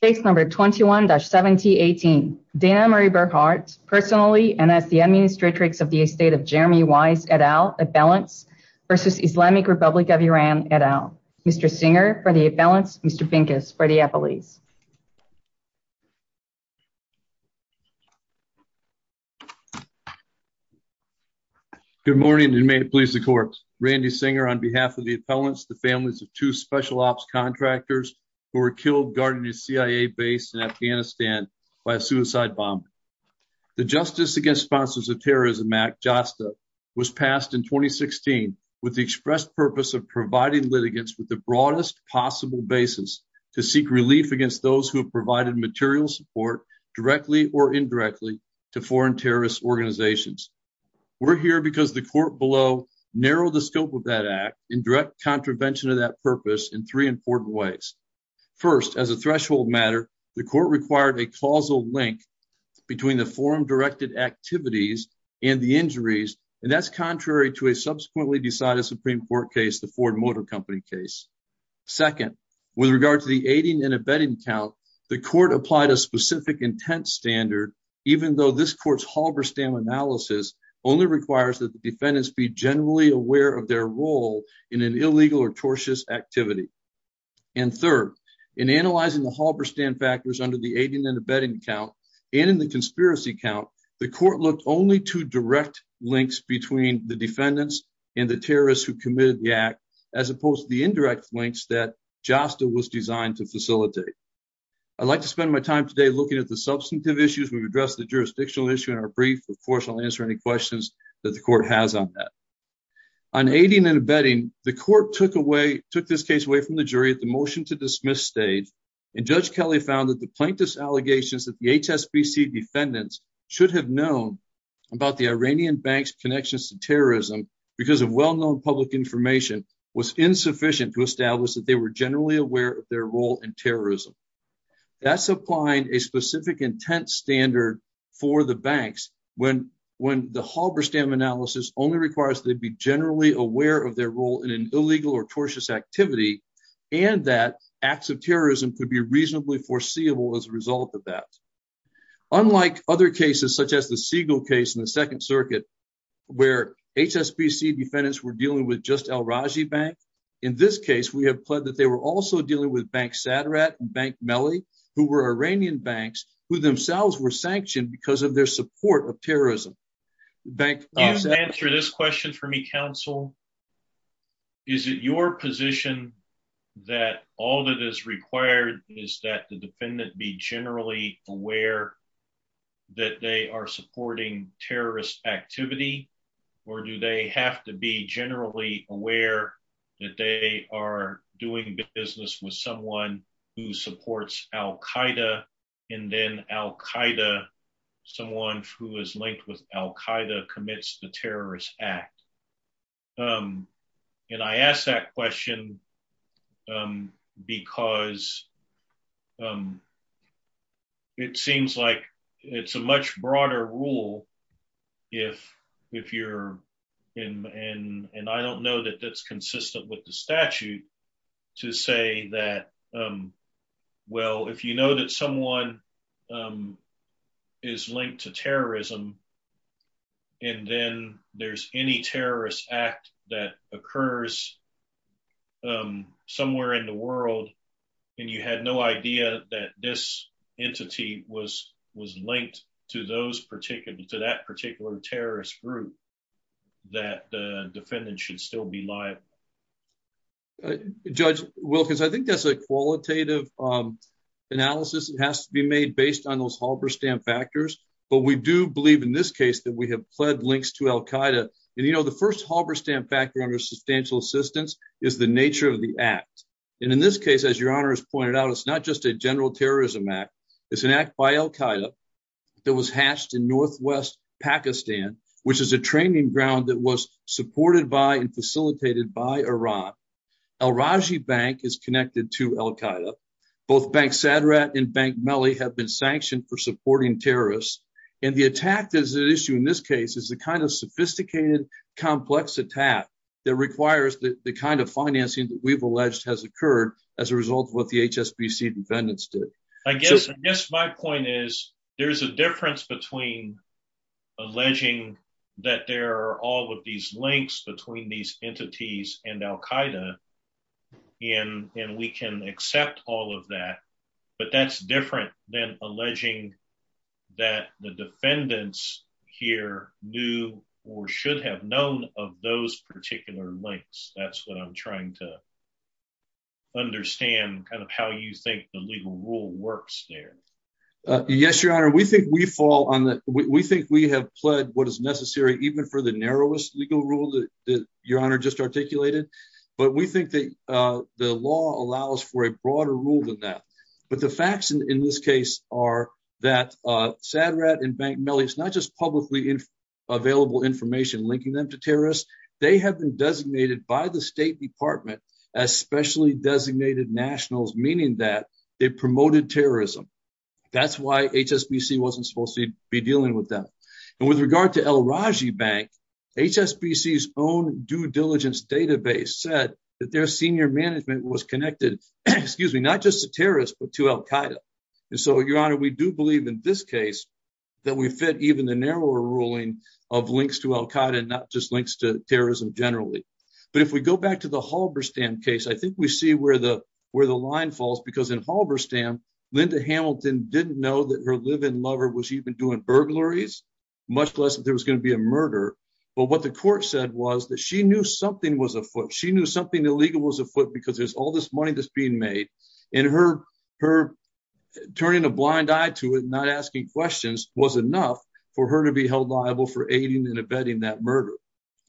case number 21-7018. Dana Marie Bernhardt, personally and as the administratrix of the estate of Jeremy Wise et al., appellants, versus Islamic Republic of Iran et al. Mr. Singer for the appellants, Mr. Pincus for the appellees. Good morning and may it please the court. Randy Singer on behalf of the appellants, the families of two special ops contractors who were killed guarding a CIA base in Afghanistan by a suicide bomb. The Justice Against Sponsors of Terrorism Act, JASTA, was passed in 2016 with the express purpose of providing litigants with the broadest possible basis to seek relief against those who have provided material support, directly or indirectly, to foreign terrorist organizations. We're here because the court below narrowed the scope of that act in direct contravention of that purpose in three important ways. First, as a threshold matter, the court required a causal link between the forum-directed activities and the injuries, and that's contrary to a subsequently decided Supreme Court case, the Ford Motor Company case. Second, with regard to the aiding and abetting count, the court applied a specific intent standard, even though this court's Halberstam analysis only requires that the defendants be generally aware of their role in an illegal or tortious activity. And third, in analyzing the Halberstam factors under the aiding and abetting count and in the conspiracy count, the court looked only to direct links between the defendants and the terrorists who committed the act, as opposed to the indirect links that JASTA was designed to facilitate. I'd like to spend my time today looking at the issue in our brief. Of course, I'll answer any questions that the court has on that. On aiding and abetting, the court took this case away from the jury at the motion-to-dismiss stage, and Judge Kelly found that the plaintiff's allegations that the HSBC defendants should have known about the Iranian bank's connections to terrorism because of well-known public information was insufficient to establish that they were generally aware of their role in terrorism. That's applying a specific intent standard for the banks when the Halberstam analysis only requires they be generally aware of their role in an illegal or tortious activity, and that acts of terrorism could be reasonably foreseeable as a result of that. Unlike other cases, such as the Siegel case in the Second Circuit, where HSBC defendants were dealing with just al-Raji Bank, in this case we have pled that they were also dealing with Saderat and Melli, who were Iranian banks who themselves were sanctioned because of their support of terrorism. Can you answer this question for me, counsel? Is it your position that all that is required is that the defendant be generally aware that they are supporting terrorist activity, or do they have to be generally aware that they are doing business with someone who supports al-Qaeda, and then al-Qaeda, someone who is linked with al-Qaeda, commits the terrorist act? I ask that question because it seems like it's a much broader rule if you're in, and I don't know that that's consistent with the statute, to say that, well, if you know that someone is linked to terrorism, and then there's any terrorist act that occurs somewhere in the world, and you had no idea that this entity was linked to that particular terrorist group, that the defendant should still be liable? Judge Wilkins, I think that's a qualitative analysis. It has to be made based on those that we have pled links to al-Qaeda, and you know the first Halberstam factor under substantial assistance is the nature of the act, and in this case, as your honor has pointed out, it's not just a general terrorism act. It's an act by al-Qaeda that was hatched in northwest Pakistan, which is a training ground that was supported by and facilitated by Iran. Al-Rajhi Bank is connected to al-Qaeda. Both Bank Sadrat and Bank Mali have been sanctioned for supporting terrorists, and the attack that is at issue in this case is the kind of sophisticated, complex attack that requires the kind of financing that we've alleged has occurred as a result of what the HSBC defendants did. I guess my point is there's a difference between alleging that there are all of these links between these entities and al-Qaeda, and we can accept all of that, but that's different than alleging that the defendants here knew or should have known of those particular links. That's what I'm trying to understand, kind of how you think the legal rule works there. Yes, your honor, we think we fall on the... we think we have pled what is necessary even for the narrowest legal rule that your honor just articulated, but we think that the law allows for a broader rule than that. But the facts in this case are that Sadrat and Bank Mali, it's not just publicly available information linking them to terrorists. They have been designated by the State Department as specially designated nationals, meaning that they promoted terrorism. That's why HSBC wasn't supposed to be with them. And with regard to El Raji Bank, HSBC's own due diligence database said that their senior management was connected, excuse me, not just to terrorists, but to al-Qaeda. And so, your honor, we do believe in this case that we fit even the narrower ruling of links to al-Qaeda and not just links to terrorism generally. But if we go back to the Halberstam case, I think we see where the line falls, because in Halberstam, Linda Hamilton didn't know that her live-in lover was even doing burglaries, much less that there was going to be a murder. But what the court said was that she knew something was afoot. She knew something illegal was afoot because there's all this money that's being made, and her turning a blind eye to it and not asking questions was enough for her to be held liable for aiding and abetting that murder.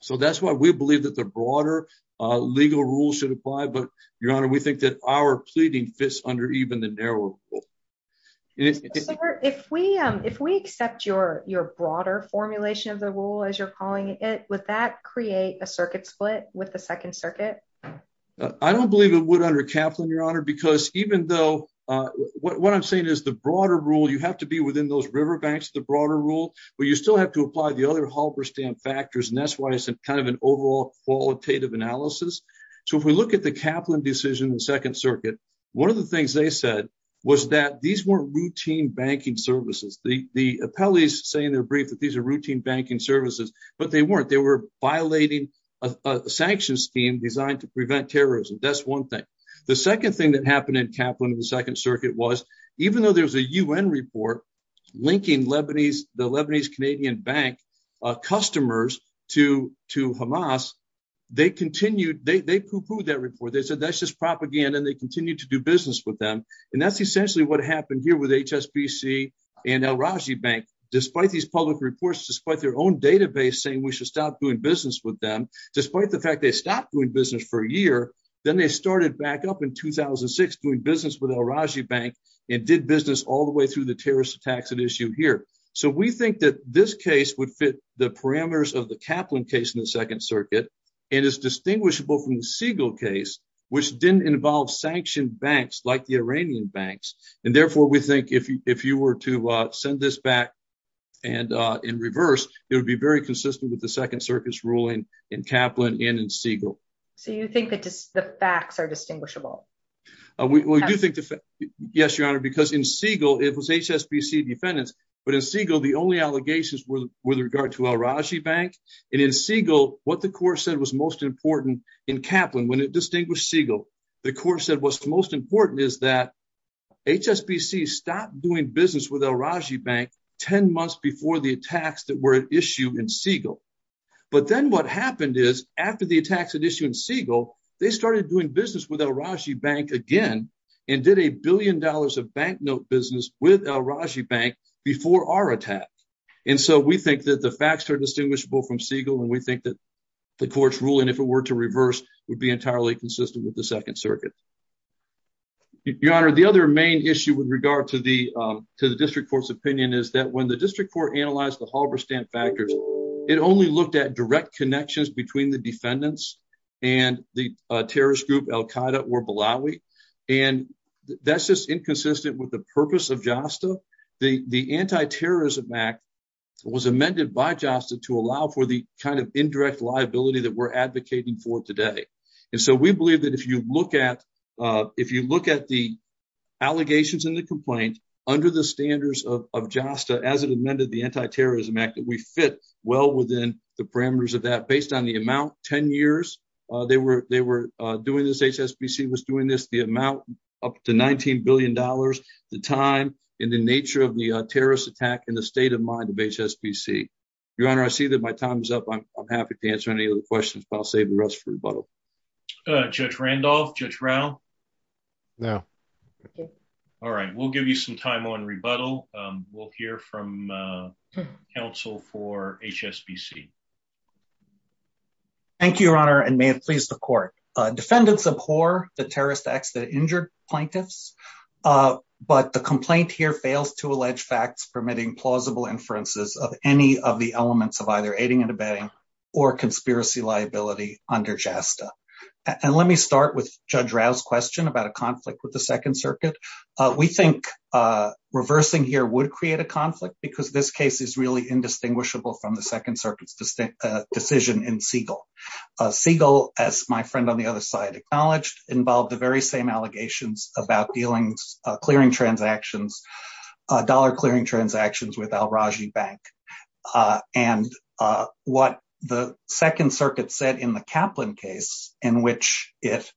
So that's why we believe that the broader legal rules should apply. But, your honor, we think our pleading fits under even the narrower rule. If we accept your broader formulation of the rule, as you're calling it, would that create a circuit split with the Second Circuit? I don't believe it would under Kaplan, your honor, because even though what I'm saying is the broader rule, you have to be within those riverbanks of the broader rule, but you still have to apply the other Halberstam factors, and that's why it's kind of an overall qualitative analysis. So if we look at the Kaplan decision in the Second Circuit, one of the things they said was that these weren't routine banking services. The appellees say in their brief that these are routine banking services, but they weren't. They were violating a sanctions scheme designed to prevent terrorism. That's one thing. The second thing that happened in Kaplan in the Second Circuit was, even though there was a UN report linking the Lebanese Canadian bank customers to Hamas, they continued, they pooh-poohed that report. They said that's just propaganda, and they continued to do business with them, and that's essentially what happened here with HSBC and al-Rajhi Bank. Despite these public reports, despite their own database saying we should stop doing business with them, despite the fact they stopped doing business for a year, then they started back up in 2006 doing business with al-Rajhi Bank and did business all the way through the Kaplan case in the Second Circuit. It is distinguishable from the Siegel case, which didn't involve sanctioned banks like the Iranian banks, and therefore we think if you were to send this back and in reverse, it would be very consistent with the Second Circuit's ruling in Kaplan and in Siegel. So you think that the facts are distinguishable? We do think the facts, yes, Your Honor, because in Siegel, it was HSBC defendants, but in Siegel, the only allegations were with regard to al-Rajhi Bank, and in Siegel, what the court said was most important in Kaplan, when it distinguished Siegel, the court said what's most important is that HSBC stopped doing business with al-Rajhi Bank 10 months before the attacks that were at issue in Siegel. But then what happened is, after the attacks at issue in Siegel, they started doing business with al-Rajhi Bank again and did a billion dollars of bank note business with al-Rajhi Bank before our attack. And so we think that the facts are distinguishable from Siegel, and we think that the court's ruling, if it were to reverse, would be entirely consistent with the Second Circuit. Your Honor, the other main issue with regard to the District Court's opinion is that when the District Court analyzed the Halberstadt factors, it only looked at direct connections between the defendants and the terrorist group al-Qaeda or Balawi, and that's just inconsistent with the purpose of JASTA. The Anti-Terrorism Act was amended by JASTA to allow for the kind of indirect liability that we're advocating for today. And so we believe that if you look at the allegations in the complaint under the standards of JASTA as it amended the Anti-Terrorism Act, that we fit well within the parameters of that based on the amount, 10 years they were doing this, HSBC was doing this, the amount up to $19 billion, the time and the nature of the terrorist attack and the state of mind of HSBC. Your Honor, I see that my time is up. I'm happy to answer any of the questions, but I'll save the rest for rebuttal. Judge Randolph, Judge Rao? No. All right, we'll give you some time on rebuttal. We'll hear from counsel for HSBC. Thank you, Your Honor, and may it please the Court. Defendants abhor the terrorist acts that injured plaintiffs, but the complaint here fails to allege facts permitting plausible inferences of any of the elements of either aiding and abetting or conspiracy liability under JASTA. And let me start with Judge Rao's question about a conflict with the Second Circuit. We think reversing here would create a conflict because this case is really indistinguishable from the Second Circuit's decision in Siegel. Siegel, as my friend on the other side acknowledged, involved the very same allegations about clearing transactions, dollar clearing transactions with Kaplan case in which it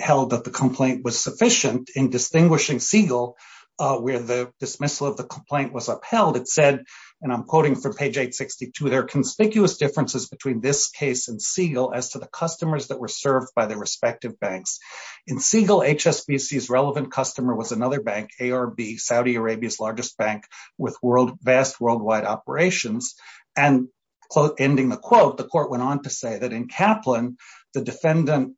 held that the complaint was sufficient in distinguishing Siegel where the dismissal of the complaint was upheld. It said, and I'm quoting from page 862, there are conspicuous differences between this case and Siegel as to the customers that were served by their respective banks. In Siegel, HSBC's relevant customer was another bank, ARB, Saudi Arabia's largest bank with vast worldwide operations. And ending the quote, the Court went on to say that in Kaplan, the defendant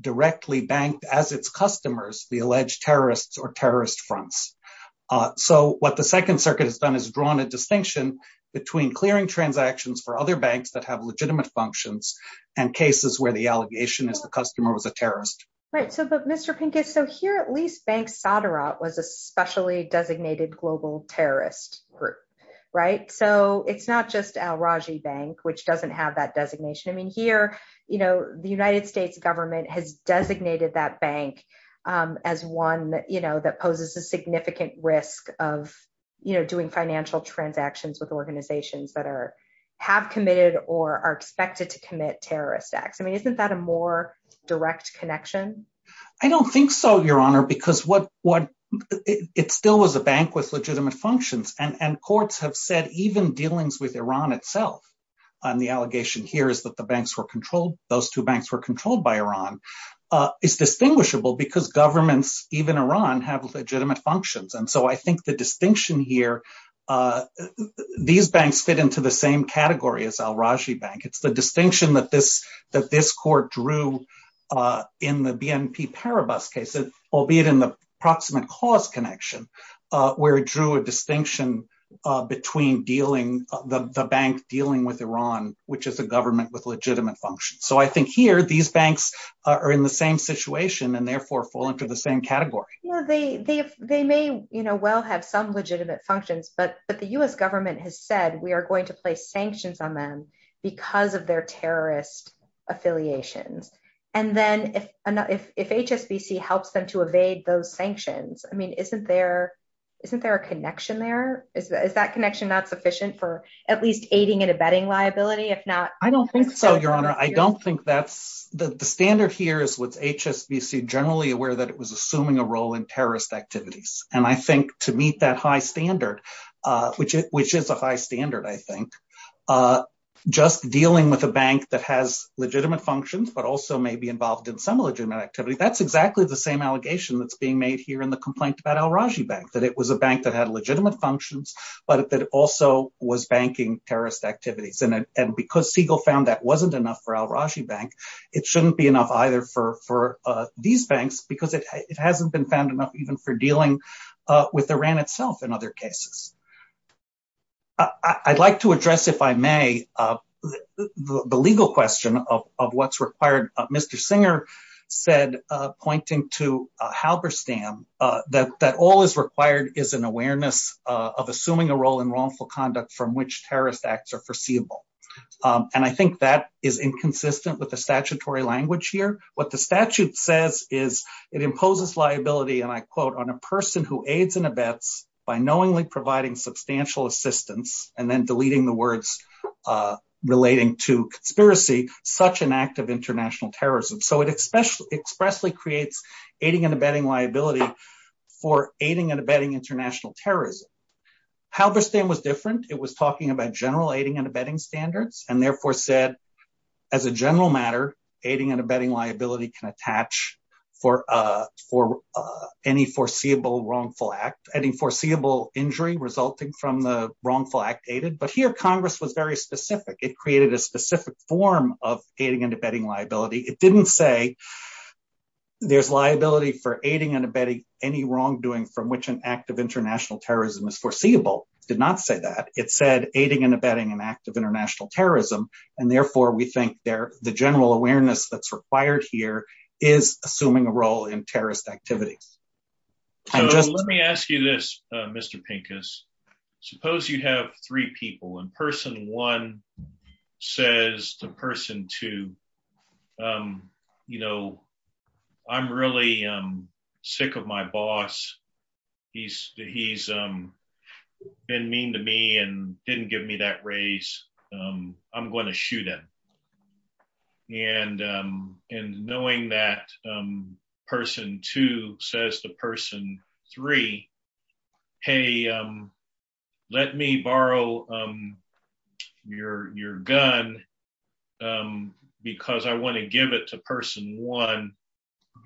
directly banked as its customers, the alleged terrorists or terrorist fronts. So what the Second Circuit has done is drawn a distinction between clearing transactions for other banks that have legitimate functions and cases where the allegation is the customer was a terrorist. Right. So, but Mr. Pincus, so here at least Bank Saderat was a specially designated global terrorist group, right? So it's not just Al-Raji Bank, which doesn't have that designation. I mean, here, you know, the United States government has designated that bank as one, you know, that poses a significant risk of, you know, doing financial transactions with organizations that are, have committed or are expected to commit terrorist acts. I mean, isn't that a more direct connection? I don't think so, Your Honor, because what, it still was a bank with legitimate functions. And courts have said even dealings with Iran itself, and the allegation here is that the banks were controlled, those two banks were controlled by Iran, is distinguishable because governments, even Iran, have legitimate functions. And so I think the distinction here, these banks fit into the same category as Al-Raji Bank. It's the distinction that this, that this drew a distinction between dealing, the bank dealing with Iran, which is a government with legitimate functions. So I think here, these banks are in the same situation and therefore fall into the same category. Yeah, they may, you know, well have some legitimate functions, but the U.S. government has said we are going to place sanctions on them because of their terrorist affiliations. And then if HSBC helps them to evade those sanctions, I mean, isn't there, isn't there a connection there? Is that connection not sufficient for at least aiding and abetting liability, if not? I don't think so, Your Honor. I don't think that's, the standard here is with HSBC generally aware that it was assuming a role in terrorist activities. And I think to meet that high standard, which is a high standard, I think, just dealing with a bank that has legitimate functions, but also may be involved in some legitimate activity, that's exactly the same allegation that's being made here in the complaint about Al-Raji Bank, that it was a bank that had legitimate functions, but that also was banking terrorist activities. And because Siegel found that wasn't enough for Al-Raji Bank, it shouldn't be enough either for these banks because it hasn't been found enough even for dealing with Iran itself in other cases. I'd like to address, if I could, Mr. Singer said, pointing to Halberstam, that all is required is an awareness of assuming a role in wrongful conduct from which terrorist acts are foreseeable. And I think that is inconsistent with the statutory language here. What the statute says is it imposes liability, and I quote, on a person who aids and abets by knowingly providing substantial assistance, and then deleting the words relating to conspiracy, such an act of international terrorism. So it expressly creates aiding and abetting liability for aiding and abetting international terrorism. Halberstam was different. It was talking about general aiding and abetting standards, and therefore said, as a general matter, aiding and abetting liability can attach for any foreseeable injury resulting from the wrongful act aided. But here Congress was very specific. It created a specific form of aiding and abetting liability. It didn't say there's liability for aiding and abetting any wrongdoing from which an act of international terrorism is foreseeable. It did not say that. It said aiding and abetting an act of international assuming a role in terrorist activities. Let me ask you this, Mr. Pincus. Suppose you have three people, and person one says to person two, you know, I'm really sick of my boss. He's been mean to me and didn't give me that raise. I'm going to shoot him. And knowing that person two says to person three, hey, let me borrow your gun because I want to give it to person one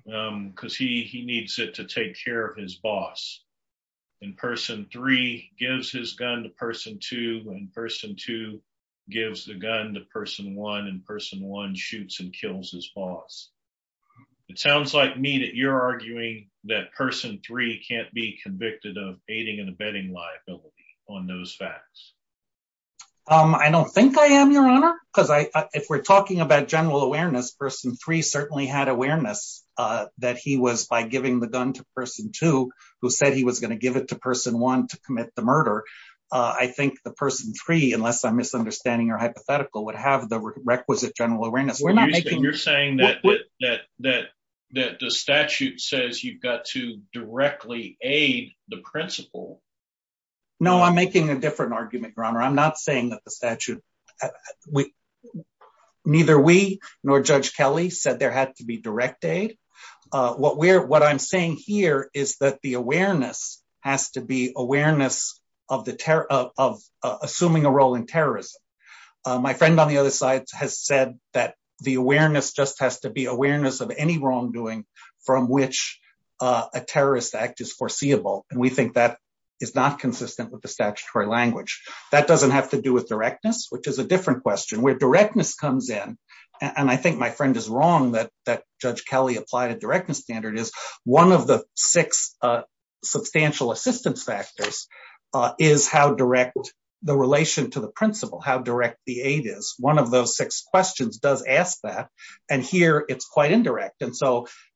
because he needs it to take care of his boss. And person three gives his gun to person two, and person two gives the gun to person one, and person one shoots and kills his boss. It sounds like me that you're arguing that person three can't be convicted of aiding and abetting liability on those facts. I don't think I am, your honor, because if we're talking about general awareness, person three certainly had awareness that he was by giving the gun to person two who said he was going to give it to person one to commit the murder. I think the person three, unless I'm misunderstanding your hypothetical, would have the requisite general awareness. You're saying that the statute says you've got to directly aid the principal? No, I'm making a different argument, your honor. I'm not saying that neither we nor Judge Kelly said there had to be direct aid. What I'm saying here is that the awareness has to be awareness of assuming a role in terrorism. My friend on the other side has said that the awareness just has to be awareness of any wrongdoing from which a terrorist act is foreseeable, and we think that is not consistent with the statutory language. That doesn't have to do with directness, which is a different question. Where directness comes in, and I think my friend is wrong that Judge Kelly applied a directness standard, is one of the six substantial assistance factors is how direct the relation to the principal, how direct the aid is. One of those six questions does ask that, and here it's quite indirect.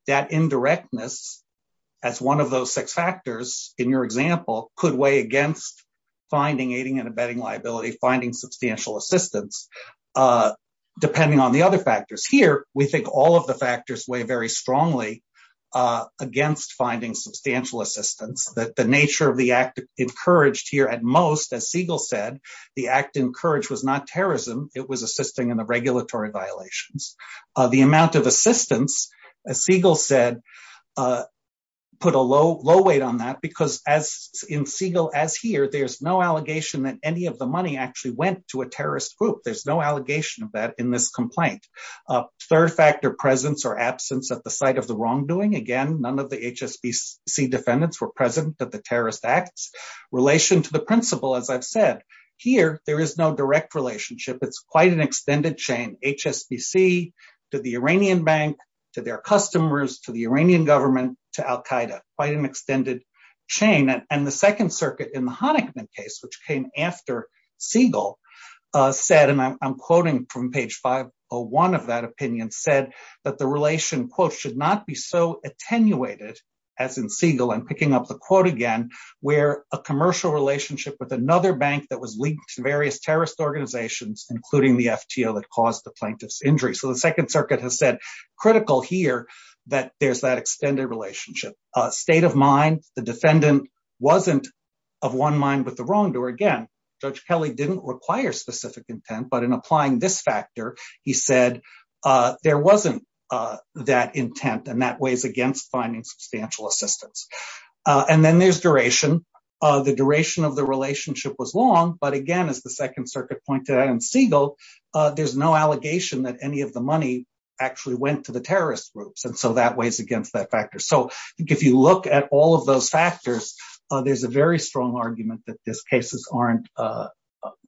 That indirectness, as one of those six factors in your example, could weigh against finding aiding and abetting liability, finding substantial assistance, depending on the other factors. Here, we think all of the factors weigh very strongly against finding substantial assistance, that the nature of the act encouraged here at most, as Siegel said, the act encouraged was not terrorism. It was assisting in the regulatory violations. The amount of assistance, as Siegel said, put a low weight on that, because as in Siegel, as here, there's no allegation that any of the money actually went to a terrorist group. There's no allegation of that in this complaint. Third factor, presence or absence at the site of the wrongdoing. Again, none of the HSBC defendants were present at the terrorist acts. Relation to the principal, as I've said, here, there is no extended chain. HSBC to the Iranian bank, to their customers, to the Iranian government, to Al-Qaeda, quite an extended chain. The Second Circuit in the Honigman case, which came after Siegel, said, and I'm quoting from page 501 of that opinion, said that the relation, quote, should not be so attenuated, as in Siegel, I'm picking up the quote again, where a commercial relationship with another bank that was linked to various terrorist organizations, including the that caused the plaintiff's injury. So the Second Circuit has said, critical here, that there's that extended relationship. State of mind, the defendant wasn't of one mind with the wrongdoer. Again, Judge Kelly didn't require specific intent, but in applying this factor, he said, there wasn't that intent, and that weighs against finding substantial assistance. And then there's duration. The duration of the relationship was long, but again, as the Second Circuit pointed out in Siegel, there's no allegation that any of the money actually went to the terrorist groups. And so that weighs against that factor. So I think if you look at all of those factors, there's a very strong argument that these cases aren't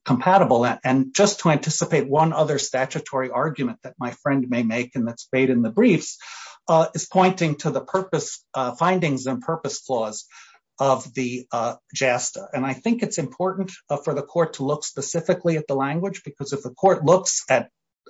compatible. And just to anticipate one other statutory argument that my friend may make, and that's made in the briefs, is pointing to the purpose findings and purpose flaws of the court. I think it's important for the court to look specifically at the language, because if the court looks at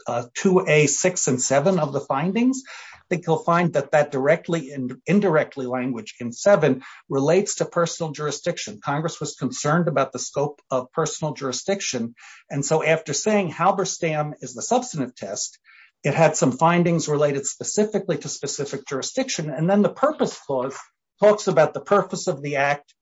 2A, 6, and 7 of the findings, I think you'll find that that directly and indirectly language in 7 relates to personal jurisdiction. Congress was concerned about the scope of personal jurisdiction. And so after saying Halberstam is the substantive test, it had some findings related specifically to specific jurisdiction. And then the purpose clause talks about the purpose of the act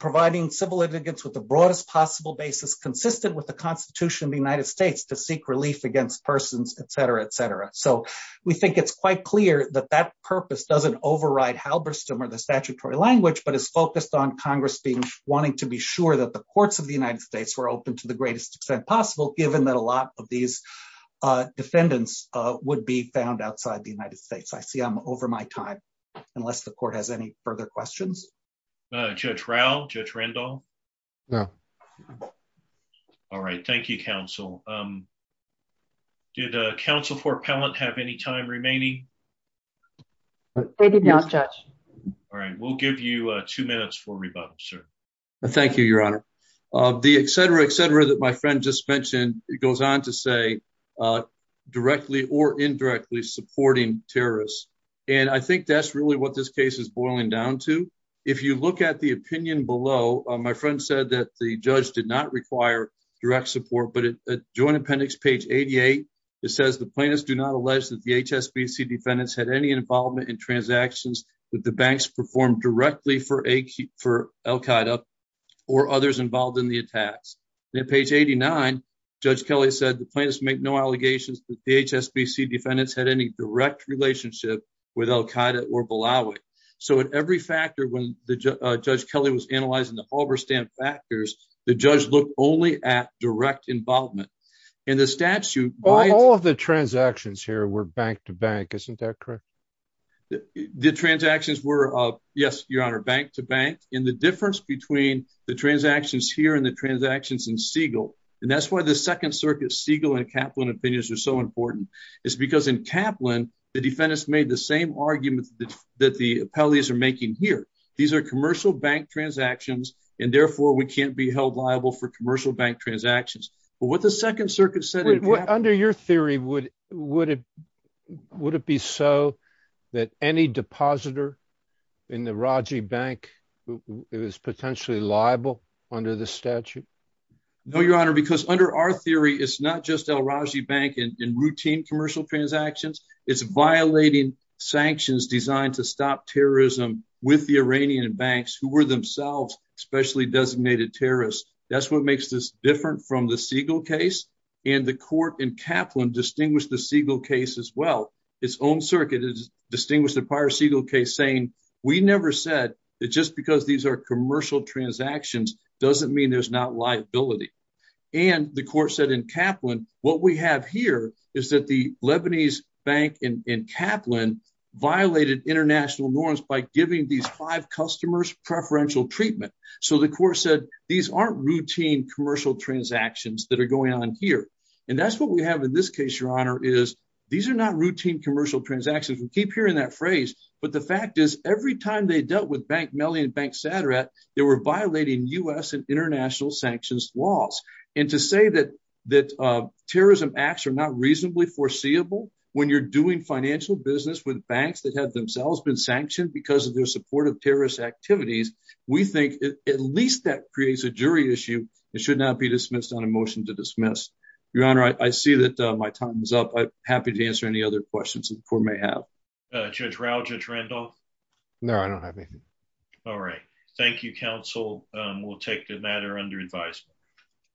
providing civil litigants with the broadest possible basis consistent with the Constitution of the United States to seek relief against persons, et cetera, et cetera. So we think it's quite clear that that purpose doesn't override Halberstam or the statutory language, but is focused on Congress wanting to be sure that the courts of the United States were open to the greatest extent possible, given that a lot of these defendants would be found outside the United States. I see I'm over my time, unless the court has any further questions. Judge Rao, Judge Randall? No. All right. Thank you, counsel. Did counsel Fort Pellant have any time remaining? They did not, Judge. All right. We'll give you two minutes for rebuttal, sir. Thank you, Your Honor. The et cetera, et cetera that my friend just mentioned, it goes on to say directly or indirectly supporting terrorists. And I think that's really what this case is boiling down to. If you look at the opinion below, my friend said that the judge did not require direct support, but at joint appendix page 88, it says the plaintiffs do not allege that the HSBC defendants had any involvement in transactions that the banks performed directly for Al-Qaeda or others involved in the attacks. At page 89, Judge Kelly said the plaintiffs make no allegations that the HSBC defendants had any direct relationship with Al-Qaeda or Balawi. So at every factor, when Judge Kelly was analyzing the Halberstam factors, the judge looked only at direct involvement. In the statute, all of the transactions here were bank to bank. Isn't that correct? The transactions were, yes, Your Honor, bank to bank. And the difference between the transactions here and the transactions in Siegel, and that's why the Second Circuit Siegel and Kaplan opinions are so important, is because in Kaplan, the defendants made the same argument that the appellees are making here. These are commercial bank transactions, and therefore we can't be held liable for commercial bank transactions. But what the Second Circuit said- Under your theory, would it be so that any depositor in the Raji Bank is potentially liable under the statute? No, Your Honor, because under our theory, it's not just Al-Raji Bank in routine commercial transactions. It's violating sanctions designed to stop terrorism with the Iranian banks, who were themselves specially designated terrorists. That's what makes this different from the Siegel case. And the court in Kaplan distinguished the Siegel case as well. Its own distinguished the prior Siegel case saying, we never said that just because these are commercial transactions doesn't mean there's not liability. And the court said in Kaplan, what we have here is that the Lebanese bank in Kaplan violated international norms by giving these five customers preferential treatment. So the court said, these aren't routine commercial transactions that are going on here. And that's what we have in this case, Your Honor, is these are not routine commercial transactions. We keep hearing that phrase, but the fact is every time they dealt with Bank Melly and Bank Sadrat, they were violating U.S. and international sanctions laws. And to say that terrorism acts are not reasonably foreseeable when you're doing financial business with banks that have themselves been sanctioned because of their support of terrorist activities, we think at least that creates a jury issue and should not be dismissed on a motion to dismiss. Your Honor, I see that my time is up. I'm happy to answer any other questions the court may have. Judge Rao, Judge Randolph? No, I don't have anything. All right. Thank you, counsel. We'll take the matter under advisement.